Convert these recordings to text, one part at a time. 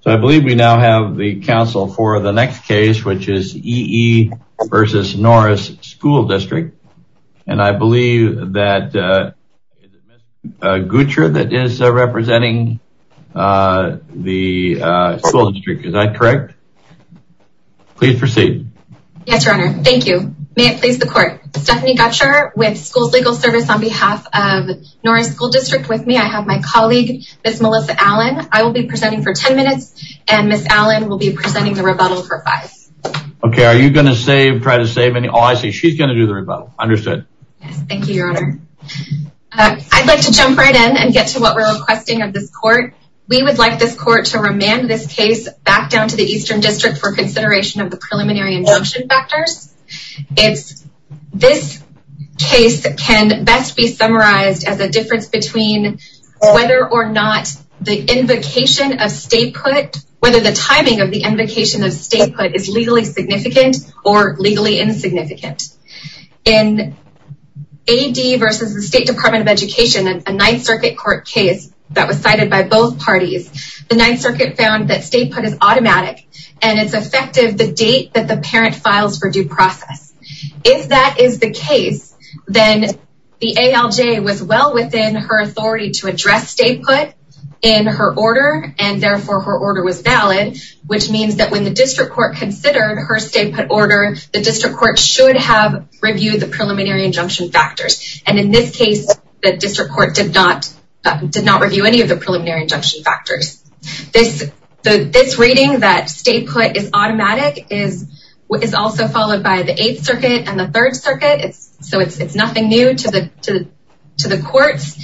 So I believe we now have the counsel for the next case, which is E. E. v. Norris School District. And I believe that it is Ms. Gutscher that is representing the school district. Is that correct? Please proceed. Yes, Your Honor. Thank you. May it please the court. Stephanie Gutscher with Schools Legal Service on behalf of Norris School District with me. I have my colleague, Ms. Melissa Allen. I will be presenting for 10 minutes and Ms. Allen will be presenting the rebuttal for five. Okay, are you going to try to save any? Oh, I see. She's going to do the rebuttal. Understood. Yes, thank you, Your Honor. I'd like to jump right in and get to what we're requesting of this court. We would like this court to remand this case back down to the Eastern District for consideration of the preliminary injunction factors. This case can best be summarized as a difference between whether or not the invocation of state put, whether the timing of the invocation of state put is legally significant or legally insignificant. In A.D. versus the State Department of Education, a Ninth Circuit court case that was cited by both parties, the Ninth Circuit found that state put is automatic and it's effective the date that the parent files for due process. If that is the case, then the ALJ was well within her authority to address state put in her order and therefore her order was valid, which means that when the district court considered her state put order, the district court should have reviewed the preliminary injunction factors. And in this case, the district court did not review any of the preliminary injunction factors. This reading that state put is automatic is also followed by the Eighth Circuit and the Third Circuit, so it's nothing new to the courts.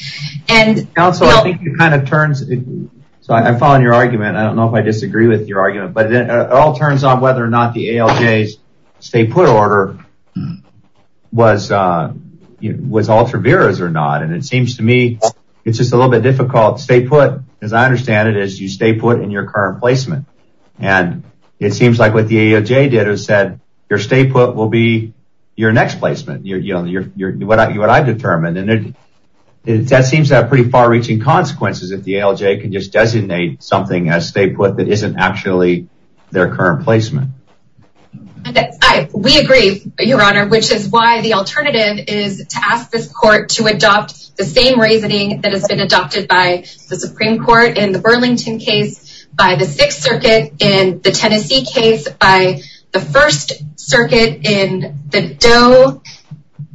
So I'm following your argument. I don't know if I disagree with your argument, but it all turns on whether or not the ALJ's state put order was altruistic or not. And it seems to me it's just a little bit difficult. State put, as I understand it, is you state put in your current placement. And it seems like what the ALJ did was say your state put will be your next placement, what I've determined. And that seems to have pretty far-reaching consequences if the ALJ can just designate something as state put that isn't actually their current placement. We agree, Your Honor, which is why the alternative is to ask this court to adopt the same reasoning that has been adopted by the Supreme Court in the Burlington case, by the Sixth Circuit in the Tennessee case, by the First Circuit in the Doe,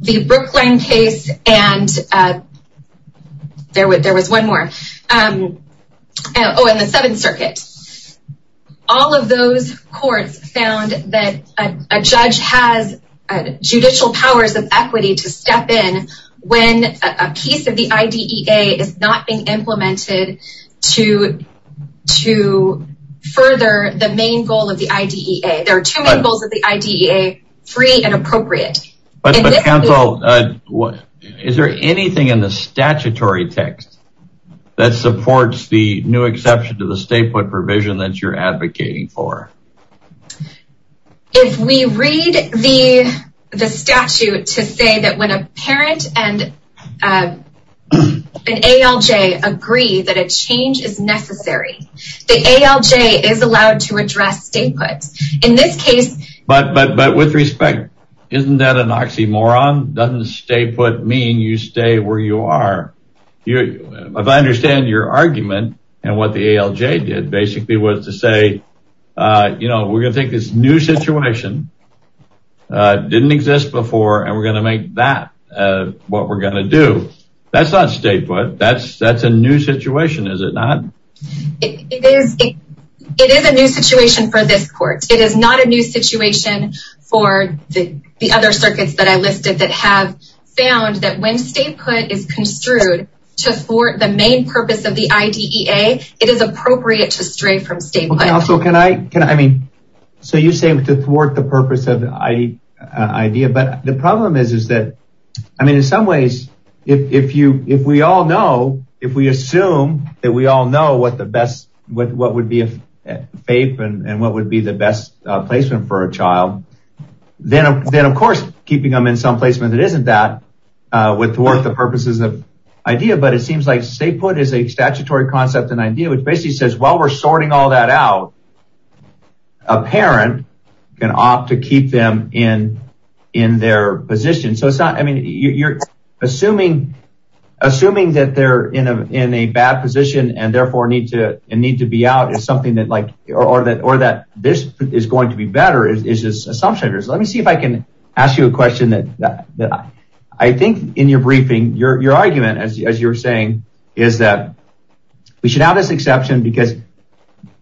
the Brooklyn case, and there was one more. Oh, and the Seventh Circuit. All of those courts found that a judge has judicial powers of equity to step in when a piece of the IDEA is not being implemented to further the main goal of the IDEA. There are two main goals of the IDEA, free and appropriate. But counsel, is there anything in the statutory text that supports the new exception to the state put provision that you're advocating for? If we read the statute to say that when a parent and an ALJ agree that a change is necessary, the ALJ is allowed to address state put. In this case... But with respect, isn't that an oxymoron? Doesn't state put mean you stay where you are? If I understand your argument and what the ALJ did was to say, we're going to take this new situation that didn't exist before and we're going to make that what we're going to do. That's not state put. That's a new situation, is it not? It is a new situation for this court. It is not a new situation for the other circuits that I listed that have found that when state put is construed to support the main purpose of the IDEA, it is appropriate to stray from state put. So you say to thwart the purpose of the IDEA, but the problem is that in some ways, if we all know, if we assume that we all know what would be a FAPE and what would be the best placement for a child, then of course keeping them in some placement that isn't that would thwart the purposes of IDEA. But it seems like state put is a statutory concept in IDEA which basically says while we're sorting all that out, a parent can opt to keep them in their position. So it's not, I mean, you're assuming that they're in a bad position and therefore need to be out is something that like, or that this is going to be better is just assumption. Let me see if I can ask you a question that I think in your briefing, your argument as you were saying, is that we should have this exception because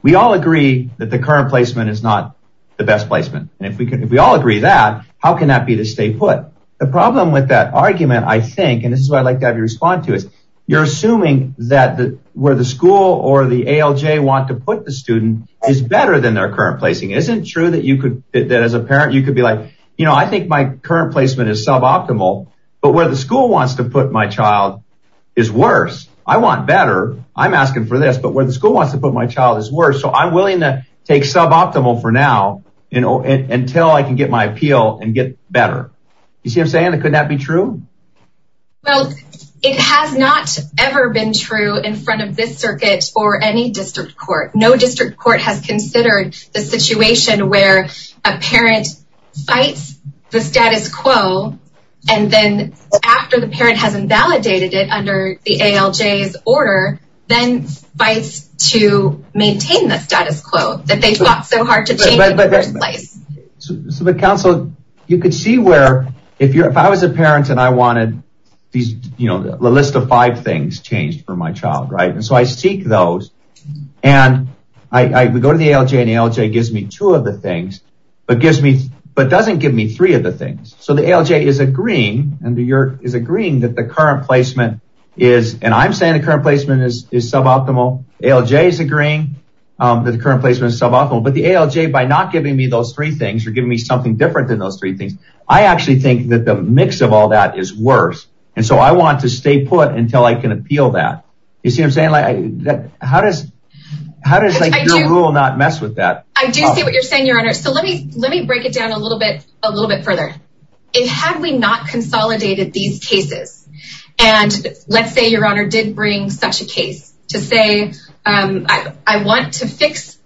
we all agree that the current placement is not the best placement. And if we can, if we all agree that, how can that be the state put? The problem with that argument, I think, and this is what I'd like to have you respond to is you're assuming that where the school or the ALJ want to put the student is better than their current placing. Isn't it true that you could, that as a parent, you could be like, you know, I think my current placement is suboptimal, but where the school wants to put my child is worse. I want better. I'm asking for this, but where the school wants to put my child is worse. So I'm willing to take suboptimal for now, you know, until I can get my appeal and get better. You see what I'm saying? Couldn't that be true? Well, it has not ever been true in front of this circuit or any district court. No district court has considered the situation where a parent fights the status quo. And then after the parent has invalidated it under the ALJ's order, then fights to maintain the status quo that they fought so hard to change in the first place. So the council, you could see where if you're, if I was a parent and I wanted these, you know, the list of five things changed for my child. Right. And so I seek those and I go to the ALJ and ALJ gives me two of the things, but gives me, but doesn't give me three of the things. So the ALJ is agreeing and the yurt is agreeing that the current placement is, and I'm saying the current placement is suboptimal. ALJ is agreeing that the current placement is suboptimal, but the ALJ, by not giving me those three things or giving me something different than those three things, I actually think that the mix of all that is worse. And so I want to stay put until I can You see what I'm saying? Like, how does, how does like your rule not mess with that? I do see what you're saying, your honor. So let me, let me break it down a little bit, a little bit further. Had we not consolidated these cases and let's say your honor did bring such a case to say, I want to fix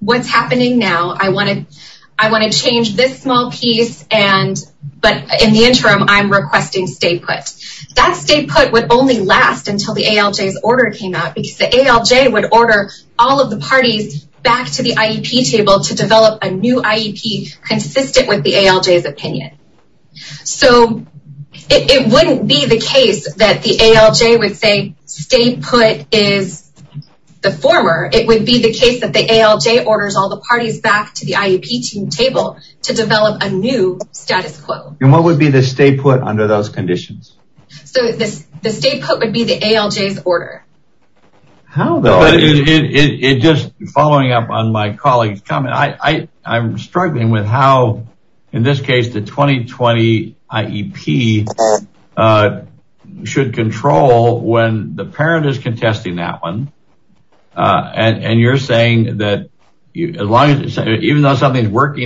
what's happening now. I want to, I want to change this small piece and, but in the interim I'm requesting stay put. That stay put would only last until the ALJ's order came out because the ALJ would order all of the parties back to the IEP table to develop a new IEP consistent with the ALJ's opinion. So it wouldn't be the case that the ALJ would say stay put is the former. It would be the case that the ALJ orders all the parties back to the IEP table to develop a new status quo. And what would be the stay put under those conditions? So the stay put would be the ALJ's order. How though? Just following up on my colleague's comment, I'm struggling with how, in this case, the 2020 IEP should control when the parent is working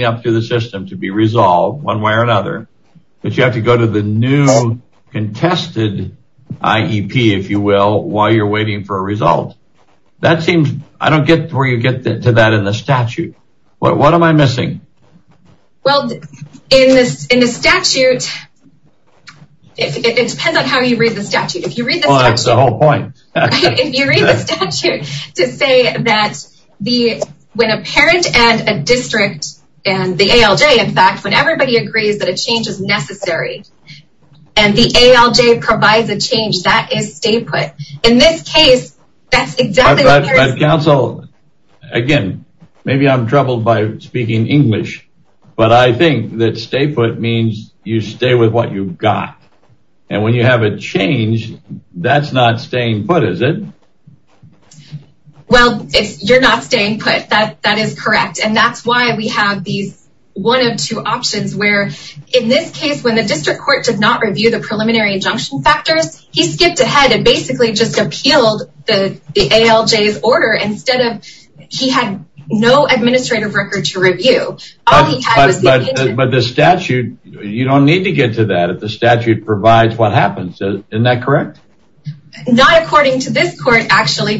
up to the system to be resolved one way or another, but you have to go to the new contested IEP, if you will, while you're waiting for a result. That seems, I don't get where you get to that in the statute. What am I missing? Well, in this, in the statute, it depends on how you read the statute. If you read the whole point, if you read the statute to say that the, when a parent and a district and the ALJ, in fact, when everybody agrees that a change is necessary and the ALJ provides a change, that is stay put. In this case, that's exactly what there is. Council, again, maybe I'm troubled by speaking English, but I think that stay put means you stay with what you've got. And when you have a change, that's not staying put, is it? Well, if you're not staying put, that is correct. And that's why we have these one of two options where, in this case, when the district court did not review the preliminary injunction factors, he skipped ahead and basically just appealed the ALJ's order instead of, he had no administrative record to review. But the statute, you don't need to get to that if the statute provides what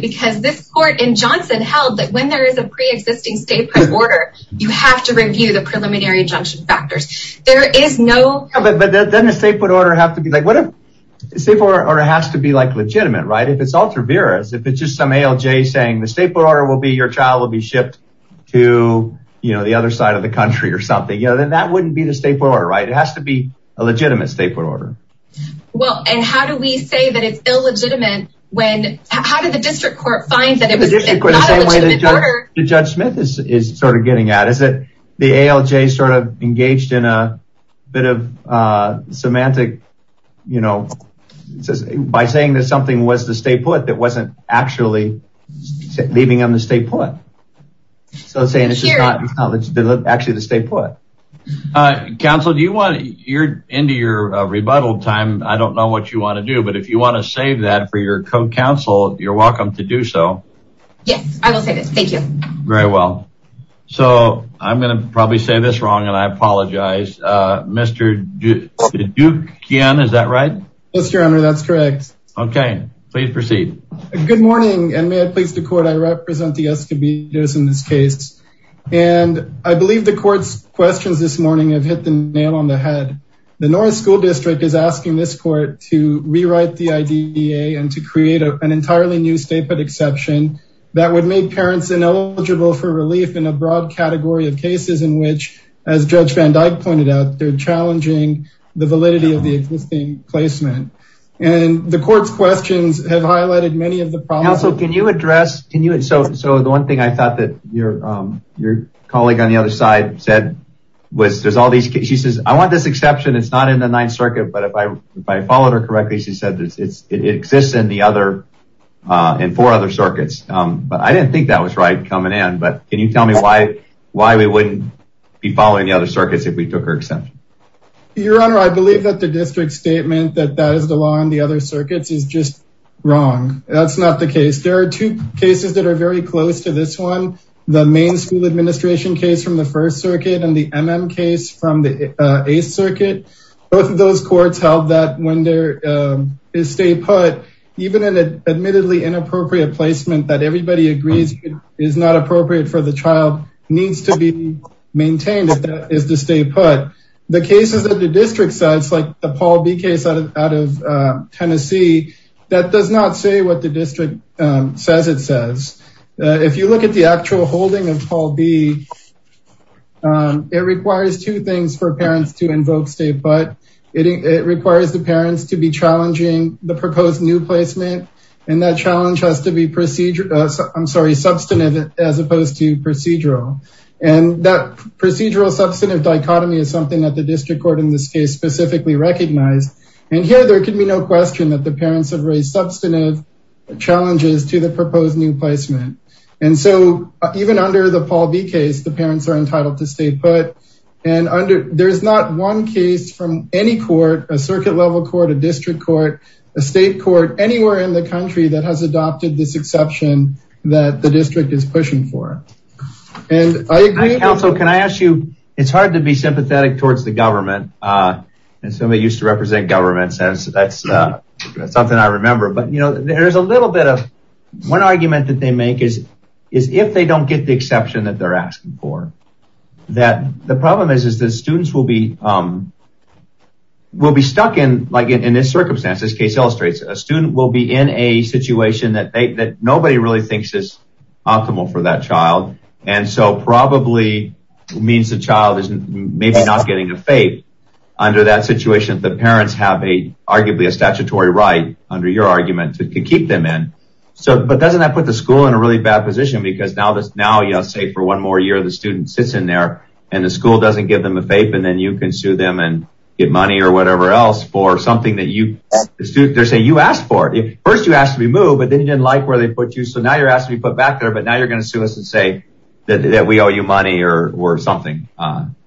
because this court in Johnson held that when there is a pre-existing stay put order, you have to review the preliminary injunction factors. There is no... Yeah, but doesn't the stay put order have to be like, what if the stay put order has to be like legitimate, right? If it's ultra-virus, if it's just some ALJ saying the stay put order will be, your child will be shipped to the other side of the country or something, then that wouldn't be the stay put order, right? It has to be a legitimate stay put order. Well, and how do we say that it's illegitimate when, how did the district court find that it was not a legitimate order? The district court, the same way that Judge Smith is sort of getting at it, is that the ALJ sort of engaged in a bit of a semantic, you know, by saying that something was the stay put that wasn't actually leaving them the stay put. So saying it's just not actually the stay put. Counsel, do you want, you're into your rebuttal time. I don't know what you want to do, but if you want to save that for your co-counsel, you're welcome to do so. Yes, I will say this. Thank you. Very well. So I'm going to probably say this wrong and I apologize. Mr. Dukian, is that right? Yes, your honor, that's correct. Okay, please proceed. Good morning and may I please the court, I represent the escobillas in this case and I believe the court's questions this morning have hit the nail on the head. The north school district is asking this court to rewrite the IDA and to create an entirely new stay put exception that would make parents ineligible for relief in a broad category of cases in which, as Judge Van Dyke pointed out, they're challenging the validity of the existing placement and the court's questions have highlighted many of the problems. So can you address, can you, so the one thing I thought that your colleague on the other side said was there's all these, she says, I want this exception, it's not in the ninth circuit, but if I followed her correctly, she said it exists in the other, in four other circuits, but I didn't think that was right coming in, but can you tell me why we wouldn't be following the other circuits if we took her exception? Your honor, I believe that the district cases that are very close to this one, the main school administration case from the first circuit and the MM case from the eighth circuit, both of those courts held that when there is stay put, even in an admittedly inappropriate placement that everybody agrees is not appropriate for the child needs to be maintained is to stay put. The cases that the district says, like the Paul B case out of Tennessee, that does not say what the district says it says. If you look at the actual holding of Paul B, it requires two things for parents to invoke stay put, it requires the parents to be challenging the proposed new placement and that challenge has to be procedure, I'm sorry, substantive as opposed to procedural and that procedural substantive dichotomy is something that the district court in this case specifically recognized and here there can be no question that the parents have raised substantive challenges to the proposed new placement and so even under the Paul B case, the parents are entitled to stay put and under, there's not one case from any court, a circuit level court, a district court, a state court, anywhere in the country that has adopted this exception that the district is pushing for and I agree. Counsel, can I ask you, it's hard to be sympathetic towards the government and somebody used to represent government, that's something I remember, but there's a little bit of, one argument that they make is if they don't get the exception that they're asking for, that the problem is that students will be stuck in, like in this circumstance, this case illustrates, a student will be in a situation that nobody really thinks is optimal for that child and so probably means the child is maybe not getting a FAPE. Under that situation, the parents have arguably a statutory right, under your argument, to keep them in, but doesn't that put the school in a really bad position because now, say for one more year, the student sits in there and the school doesn't give them a FAPE and then you can sue them and get money or whatever else for something that you, they're saying you asked for. First you asked to be moved, but then you didn't like where they put you, so now you're asking to be put back there, but now you're going to sue us and say that we owe you money or something.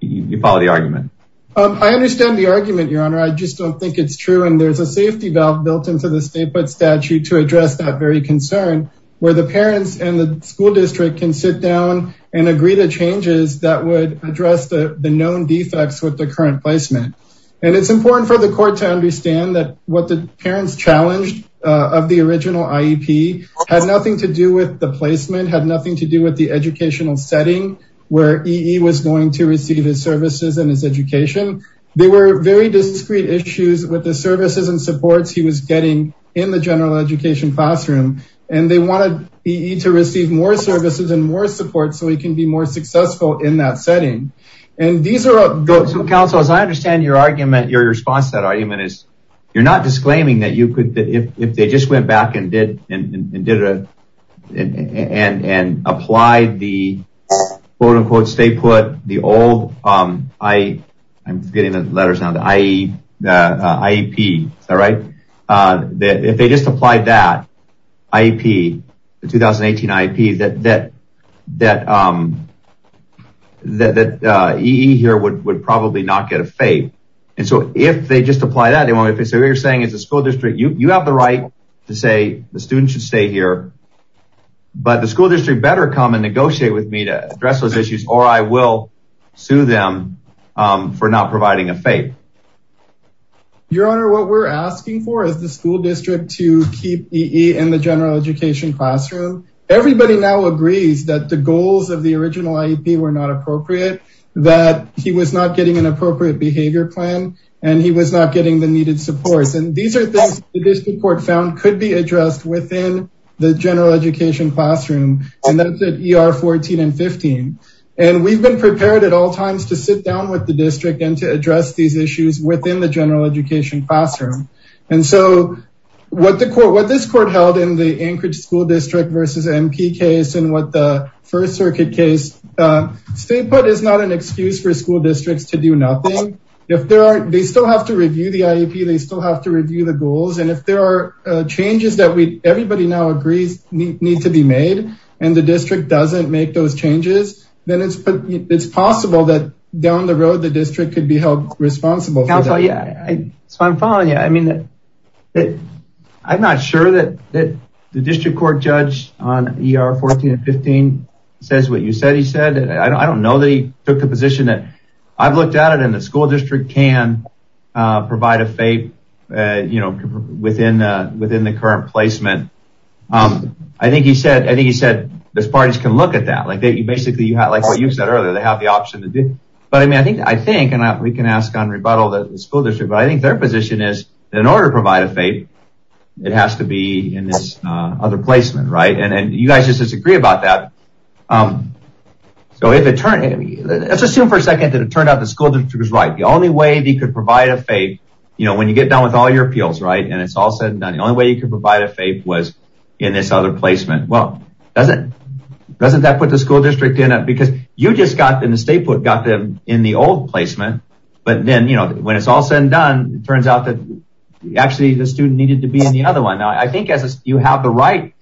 You follow the argument? I understand the argument, your honor, I just don't think it's true and there's a safety valve built into the statehood statute to address that very concern, where the parents and the school district can sit down and agree to changes that would address the known defects with the current placement and it's important for the court to understand that what parents challenged of the original IEP had nothing to do with the placement, had nothing to do with the educational setting where EE was going to receive his services and his education. They were very discrete issues with the services and supports he was getting in the general education classroom and they wanted EE to receive more services and more support so he can be more successful in that setting and these are- So council, as I understand your argument, your response to that argument is you're not disclaiming that if they just went back and applied the quote-unquote statehood, the old, I'm getting the letters now, the IEP, is that right? If they just applied that IEP, the 2018 IEP that EE here would probably not get a fate and so if they just apply that, if what you're saying is the school district, you have the right to say the students should stay here but the school district better come and negotiate with me to address those issues or I will sue them for not providing a fate. Your honor, what we're asking for is the school district to keep EE in the general education classroom. Everybody now agrees that the goals of the original IEP were not appropriate, that he was not getting an appropriate behavior plan and he was not getting the needed supports and these are things the district court found could be addressed within the general education classroom and that's at ER 14 and 15 and we've been prepared at all times to sit down with the district and to address these issues within the general education classroom and so what the court, what this court held in the Anchorage school district versus MP case and what the first circuit case, state put is not an excuse for school districts to do nothing. If there are, they still have to review the IEP, they still have to review the goals and if there are changes that we, everybody now agrees need to be made and the district doesn't make those changes, then it's possible that down the road the district could be held responsible. Counsel, yeah, so I'm following you. I mean, I'm not sure that the district court judge on ER 14 and 15 says what you said he said. I don't know that he took the position that I've looked at it and the school district can provide a FAPE, you know, within the current placement. I think he said this parties can look at that. Like you basically, like what you said earlier, they have the option to do, but I mean, I think and we can ask on rebuttal that the school district, but I think their position is in order to provide a FAPE, it has to be in this other placement, right? And you guys just disagree about that. So if it turned, let's assume for a second that it turned out the school district was right. The only way they could provide a FAPE, you know, when you get done with all your appeals, right, and it's all said and done, the only way you could provide a FAPE was in this other placement. Well, doesn't that put the school district in it? Because you just got in the state book, got them in the old placement, but then, you know, when it's all said and done, it turns out that actually the student needed to be in the other one. Now, I think as you have the right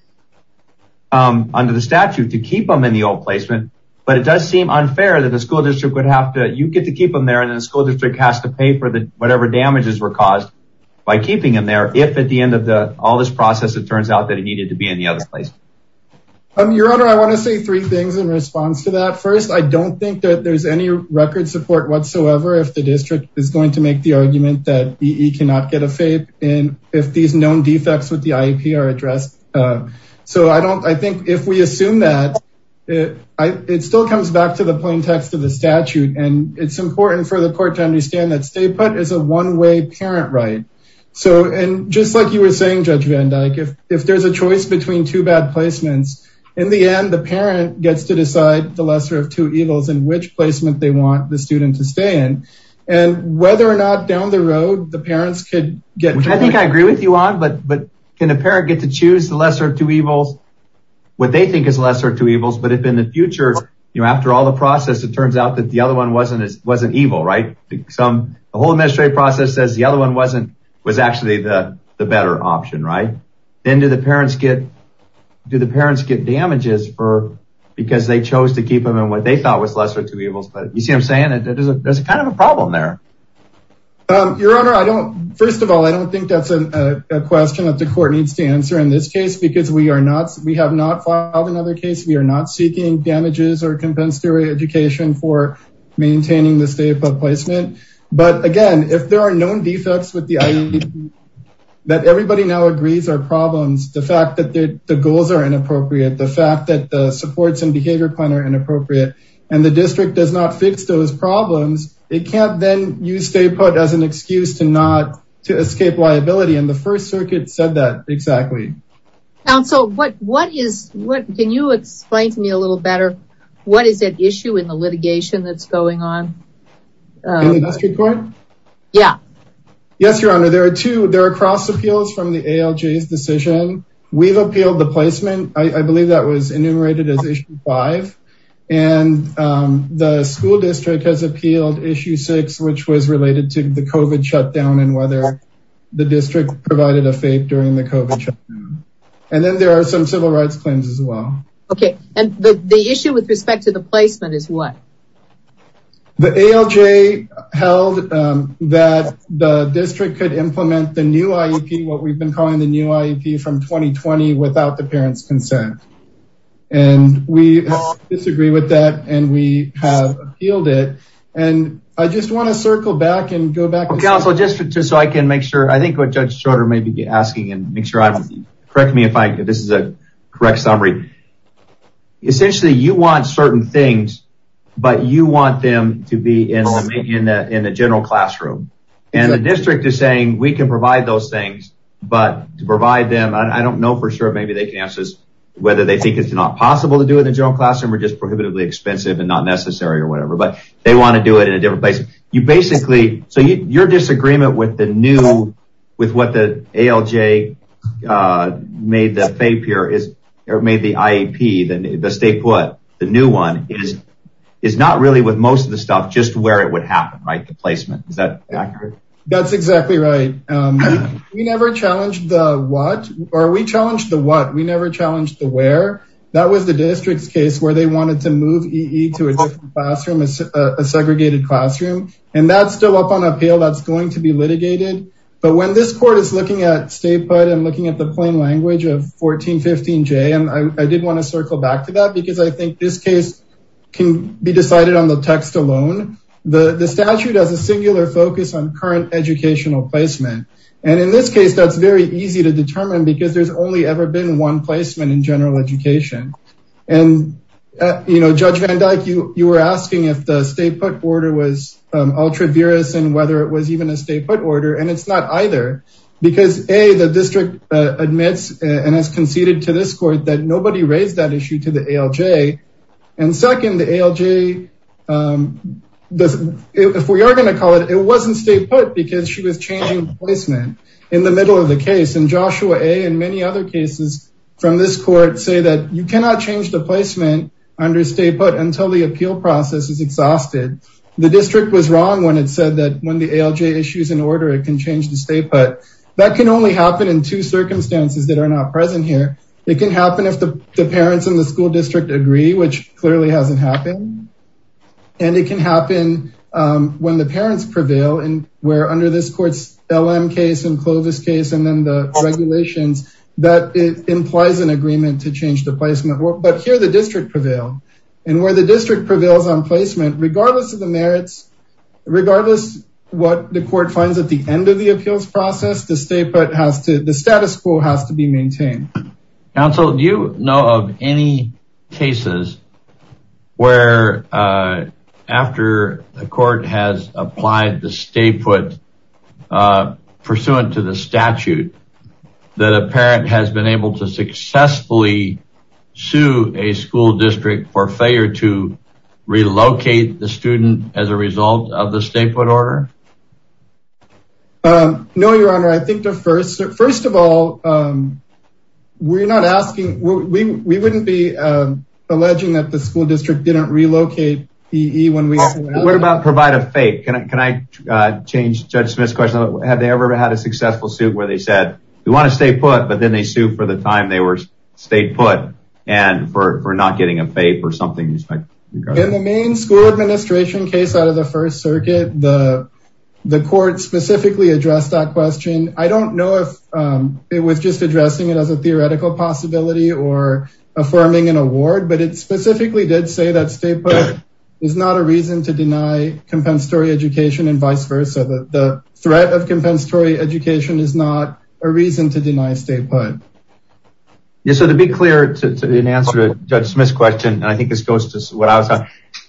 under the statute to keep them in the old placement, but it does seem unfair that the school district would have to, you get to keep them there and then the school district has to pay for whatever damages were caused by keeping them there. If at the end of all this process, it turns out that it needed to be in the other place. Your Honor, I want to say three things in response to that. First, I don't think that there's any record support whatsoever if the district is going to make the argument that EE cannot get a FAPE and if these known defects with the IEP are addressed. So, I don't, I think if we assume that, it still comes back to the plain text of the statute and it's important for the court to understand that stay put is a one-way parent right. So, and just like you were saying, Judge Van Dyke, if there's a choice between two bad placements, in the end, the parent gets to decide the lesser of two evils in which placement they want the student to stay and whether or not down the road, the parents could get. I think I agree with you on but, but can a parent get to choose the lesser of two evils, what they think is lesser of two evils, but if in the future, you know, after all the process, it turns out that the other one wasn't as, wasn't evil, right? Some, the whole administrative process says the other one wasn't, was actually the, the better option, right? Then do the parents get, do the parents get damages for, because they chose to keep them in what they thought was lesser of two evils, but you see what I'm saying? It is a, there's a kind of a problem there. Your Honor, I don't, first of all, I don't think that's a question that the court needs to answer in this case, because we are not, we have not filed another case. We are not seeking damages or compensatory education for maintaining the stay put placement. But again, if there are known defects with the IEP, that everybody now agrees are problems, the fact that the goals are inappropriate, the fact that the supports and behavior plan are inappropriate, and the district does not fix those problems, it can't then use stay put as an excuse to not to escape liability. And the first circuit said that exactly. And so what, what is, what can you explain to me a little better? What is at issue in the litigation that's going on? In the district court? Yeah. Yes, Your Honor. There are two, there are cross appeals from the ALJ's decision. We've appealed the school district has appealed issue six, which was related to the COVID shutdown and whether the district provided a fate during the COVID shutdown. And then there are some civil rights claims as well. Okay. And the issue with respect to the placement is what? The ALJ held that the district could implement the new IEP, what we've been calling the new IEP from 2020 without the appealed it. And I just want to circle back and go back. Counsel, just so I can make sure I think what Judge Shorter may be asking and make sure I'm correct me if I this is a correct summary. Essentially, you want certain things, but you want them to be in the in the in the general classroom. And the district is saying we can provide those things. But to provide them I don't know for sure maybe they can answer this, whether they think it's not possible to do in the general classroom or just prohibitively expensive and not necessary or whatever, but they want to do it in a different place. You basically so your disagreement with the new with what the ALJ made that they appear is or made the IEP then the state what the new one is, is not really with most of the stuff just where it would happen, right? The placement is that accurate? That's exactly right. We never challenged the what are we challenged the what we never challenged the where that was the district's where they wanted to move to a classroom is a segregated classroom. And that's still up on appeal that's going to be litigated. But when this court is looking at state but I'm looking at the plain language of 1415 J and I did want to circle back to that because I think this case can be decided on the text alone. The statute has a singular focus on current educational placement. And in this case, that's very easy to determine because there's only ever been one placement in you know, Judge Van Dyke, you were asking if the state put order was ultra virus and whether it was even a state put order and it's not either. Because a the district admits and has conceded to this court that nobody raised that issue to the ALJ. And second, the ALJ doesn't, if we are going to call it it wasn't state put because she was changing placement in the middle of the case and Joshua a and many other cases from this court say that you cannot change the placement under state but until the appeal process is exhausted. The district was wrong when it said that when the ALJ issues in order it can change the state but that can only happen in two circumstances that are not present here. It can happen if the parents in the school district agree which clearly hasn't happened. And it can happen when the parents prevail and where under this LM case and Clovis case and then the regulations that it implies an agreement to change the placement but here the district prevail and where the district prevails on placement regardless of the merits regardless what the court finds at the end of the appeals process the state but has to the status quo has to be maintained. Counsel do you know of any cases where after the court has applied the state put pursuant to the statute that a parent has been able to successfully sue a school district for failure to relocate the student as a result of the state put order? No your honor I think the first first of all we're not asking we wouldn't be alleging that the school district didn't relocate EE when we what about provide a FAPE can I can I change Judge Smith's question have they ever had a successful suit where they said we want to stay put but then they sued for the time they were state put and for not getting a FAPE or something. In the main school administration case out of the first circuit the the court specifically addressed that question I don't know if it was just addressing it as a theoretical possibility or affirming an award but it specifically did say that state put is not a reason to deny compensatory education and vice versa the threat of compensatory education is not a reason to deny state put. Yes so to be clear to an answer to Judge Smith's question and I think this goes to what I was on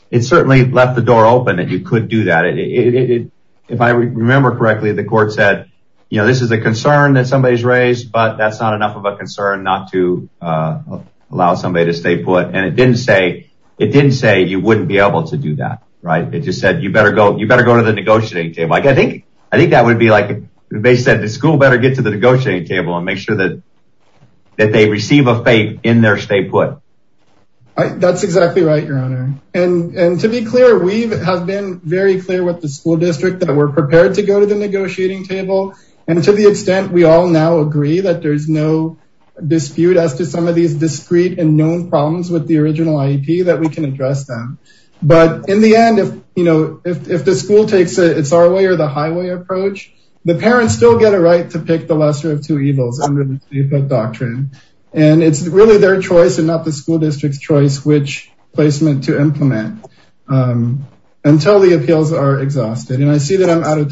it certainly left the door open that you could do that if I remember correctly the court said you know this is a concern that somebody's raised but that's not enough of a concern not to allow somebody to stay put and it didn't say it didn't say you wouldn't be able to do that right it just said you better go you better go to the negotiating table like I think I think that would be like they said the school better get to the negotiating table and make sure that that they receive a FAPE in their state put. That's exactly right your honor and and to be clear we've have been very clear with the school district that we're prepared to go to the negotiating table and to the extent we all now agree that there's no dispute as to some of these discrete and known problems with the original IEP that we can address them but in the end if you know if the school takes it it's our way or the highway approach the parents still get a right to pick the lesser of two evils under the state put doctrine and it's really their choice and not the school district's choice which placement to implement until the appeals are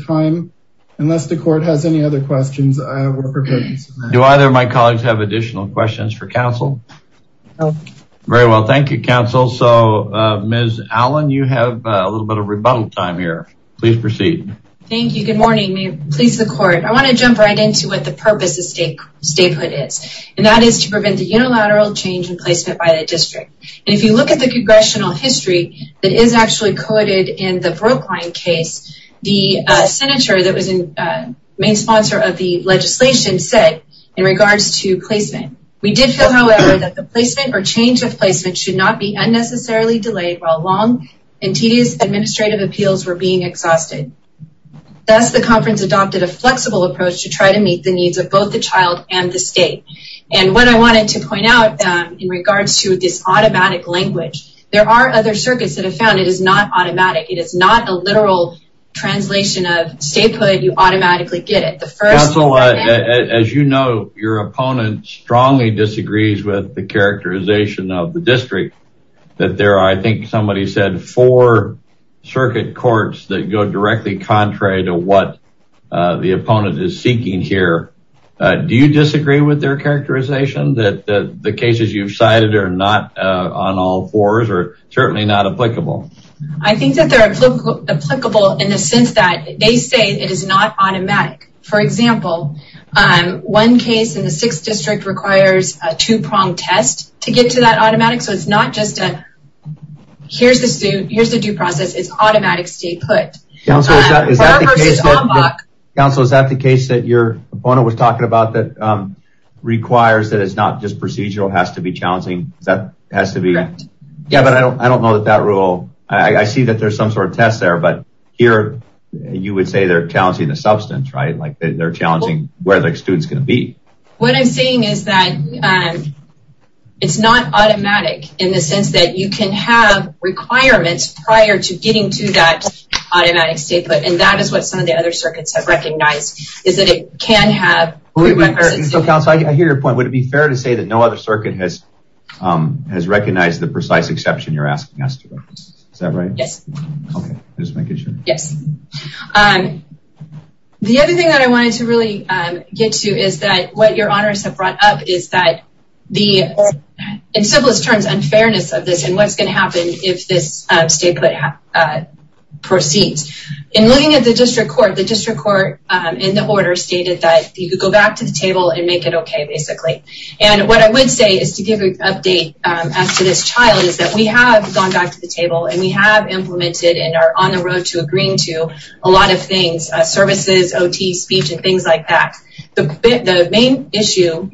time unless the court has any other questions. Do either of my colleagues have additional questions for counsel? No. Very well thank you counsel so uh Ms. Allen you have a little bit of rebuttal time here please proceed. Thank you good morning may it please the court I want to jump right into what the purpose of statehood is and that is to prevent the unilateral change in placement by the district and if you look at the congressional history that is actually coded in the brookline case the senator that was in main sponsor of the legislation said in regards to placement we did feel however that the placement or change of placement should not be unnecessarily delayed while long and tedious administrative appeals were being exhausted thus the conference adopted a flexible approach to try to meet the needs of both the child and the state and what I wanted to point out in regards to this automatic language there are other circuits that have found it is not automatic it is not a literal translation of statehood you automatically get it the first as you know your opponent strongly disagrees with the characterization of the district that there are I think somebody said four circuit courts that go directly contrary to what the opponent is seeking here do you disagree with their characterization that that the cases you've cited are not on all fours or certainly not applicable I think that they're applicable in the sense that they say it is not automatic for example one case in the sixth district requires a two-pronged test to get to that automatic so it's not just a here's the suit here's the due process it's automatic statehood council is that the case that your opponent was talking about that requires that it's not just procedural has to be challenging that has to be correct yeah but I don't I don't know that that rule I see that there's some sort of test there but here you would say they're challenging the substance right like they're challenging where the student's going to be what I'm saying is that it's not automatic in the sense that you can have requirements prior to getting to that automatic state but and that is what some of the other circuits have recognized is that it can have whoever so counsel I hear your point would it be fair to say that no other circuit has has recognized the precise exception you're asking us to is that right yes okay just make it sure yes um the other thing that I wanted to really um get to is that what your honors have brought up is that the in simplest terms unfairness of this and what's going to happen if this uh uh proceeds in looking at the district court the district court um in the order stated that you could go back to the table and make it okay basically and what I would say is to give an update um as to this child is that we have gone back to the table and we have implemented and are on the road to agreeing to a lot of things uh services ot speech and things like that the the main issue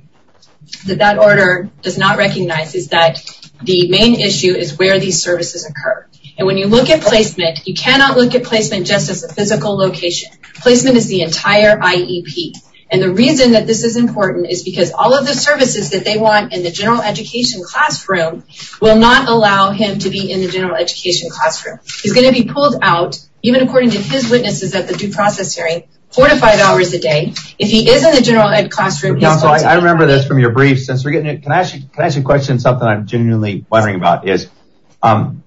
that that order does not recognize is that the main issue is where these services occur and when you look at placement you cannot look at placement just as a physical location placement is the entire iep and the reason that this is important is because all of the services that they want in the general education classroom will not allow him to be in the general education classroom he's going to be pulled out even according to his witnesses at the due process hearing four to five hours a day if he is in the general ed classroom council I remember this from your brief since we're getting it can I ask you can I ask you a question something I'm genuinely wondering about is um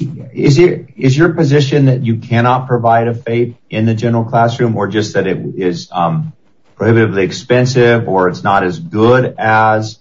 is it is your position that you cannot provide a faith in the general classroom or just that it is um prohibitively expensive or it's not as good as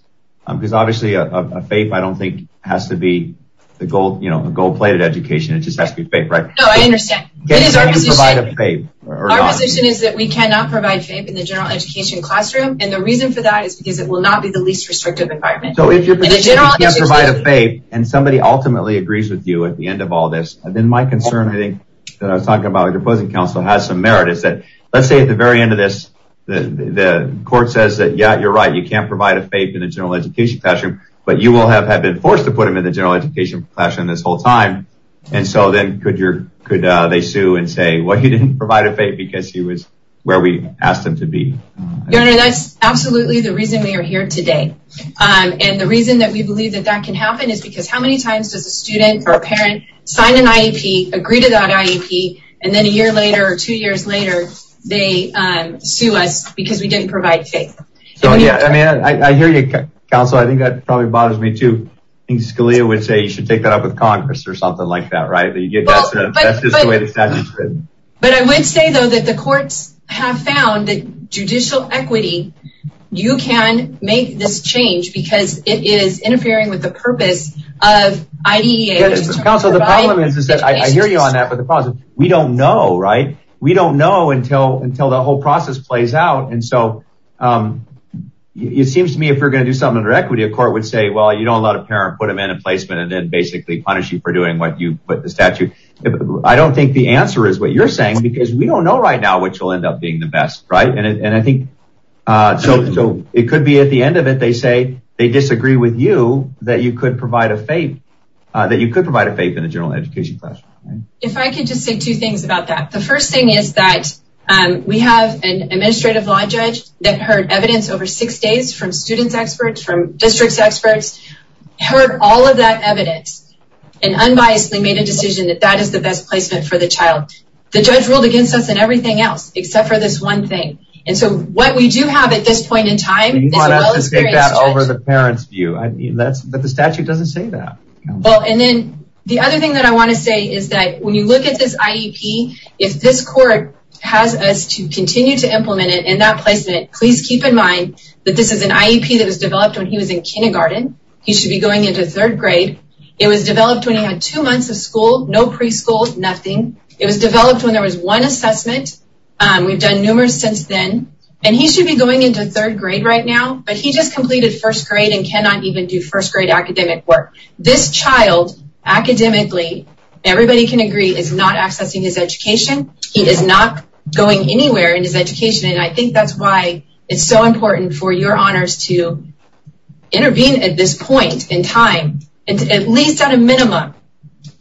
um because obviously a faith I don't think has to be the goal you know a gold-plated education it just has to be fake right no I understand can you provide a faith our position is that we cannot provide faith in the general education classroom and the reason for that is because it will not be the least restrictive environment so if you can't provide a faith and somebody ultimately agrees with you at the end of all this and then my concern I think that I was talking about the opposing council has some merit is that let's say at the very end of this the the court says that yeah you're right you can't provide a faith in the general education classroom but you will have have been forced to put him in the general education classroom this whole time and so then could your could uh they sue and say well he didn't provide a faith because he was where we are here today um and the reason that we believe that that can happen is because how many times does a student or a parent sign an IEP agree to that IEP and then a year later or two years later they um sue us because we didn't provide faith so yeah I mean I hear you council I think that probably bothers me too I think Scalia would say you should take that up with congress or something like that right that you get that's just the way the statute's written but I would say though that the courts have found that judicial equity you can make this change because it is interfering with the purpose of IDEA council the problem is is that I hear you on that but the problem is we don't know right we don't know until until the whole process plays out and so um it seems to me if you're going to do something under equity a court would say well you don't let a parent put him in a placement and then basically punish you for doing what you put the statute I don't think the answer is what you're saying because we don't know right now what you'll end up being the best right and I think uh so it could be at the end of it they say they disagree with you that you could provide a faith uh that you could provide a faith in a general education classroom if I could just say two things about that the first thing is that um we have an administrative law judge that heard evidence over six days from students experts from districts experts heard all of that evidence and unbiasedly made a decision that that is the best placement for the child the judge ruled against us and everything else except for this one thing and so what we do have at this point in time you want us to take that over the parents view I mean that's but the statute doesn't say that well and then the other thing that I want to say is that when you look at this IEP if this court has us to continue to implement it in that placement please keep in mind that this IEP that was developed when he was in kindergarten he should be going into third grade it was developed when he had two months of school no preschool nothing it was developed when there was one assessment um we've done numerous since then and he should be going into third grade right now but he just completed first grade and cannot even do first grade academic work this child academically everybody can agree is not accessing his education he is not going anywhere in his to intervene at this point in time and at least at a minimum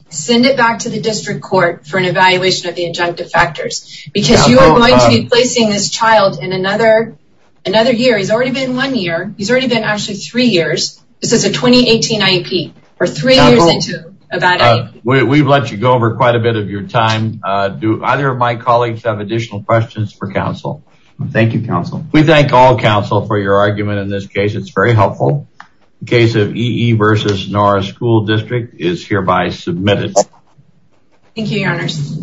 send it back to the district court for an evaluation of the injunctive factors because you are going to be placing this child in another another year he's already been one year he's already been actually three years this is a 2018 IEP or three years into about it we've let you go over quite a bit of your time uh do either of my colleagues have additional questions for counsel thank you counsel we thank all counsel for your argument in this case it's very helpful the case of ee versus norris school district is hereby submitted thank you your honors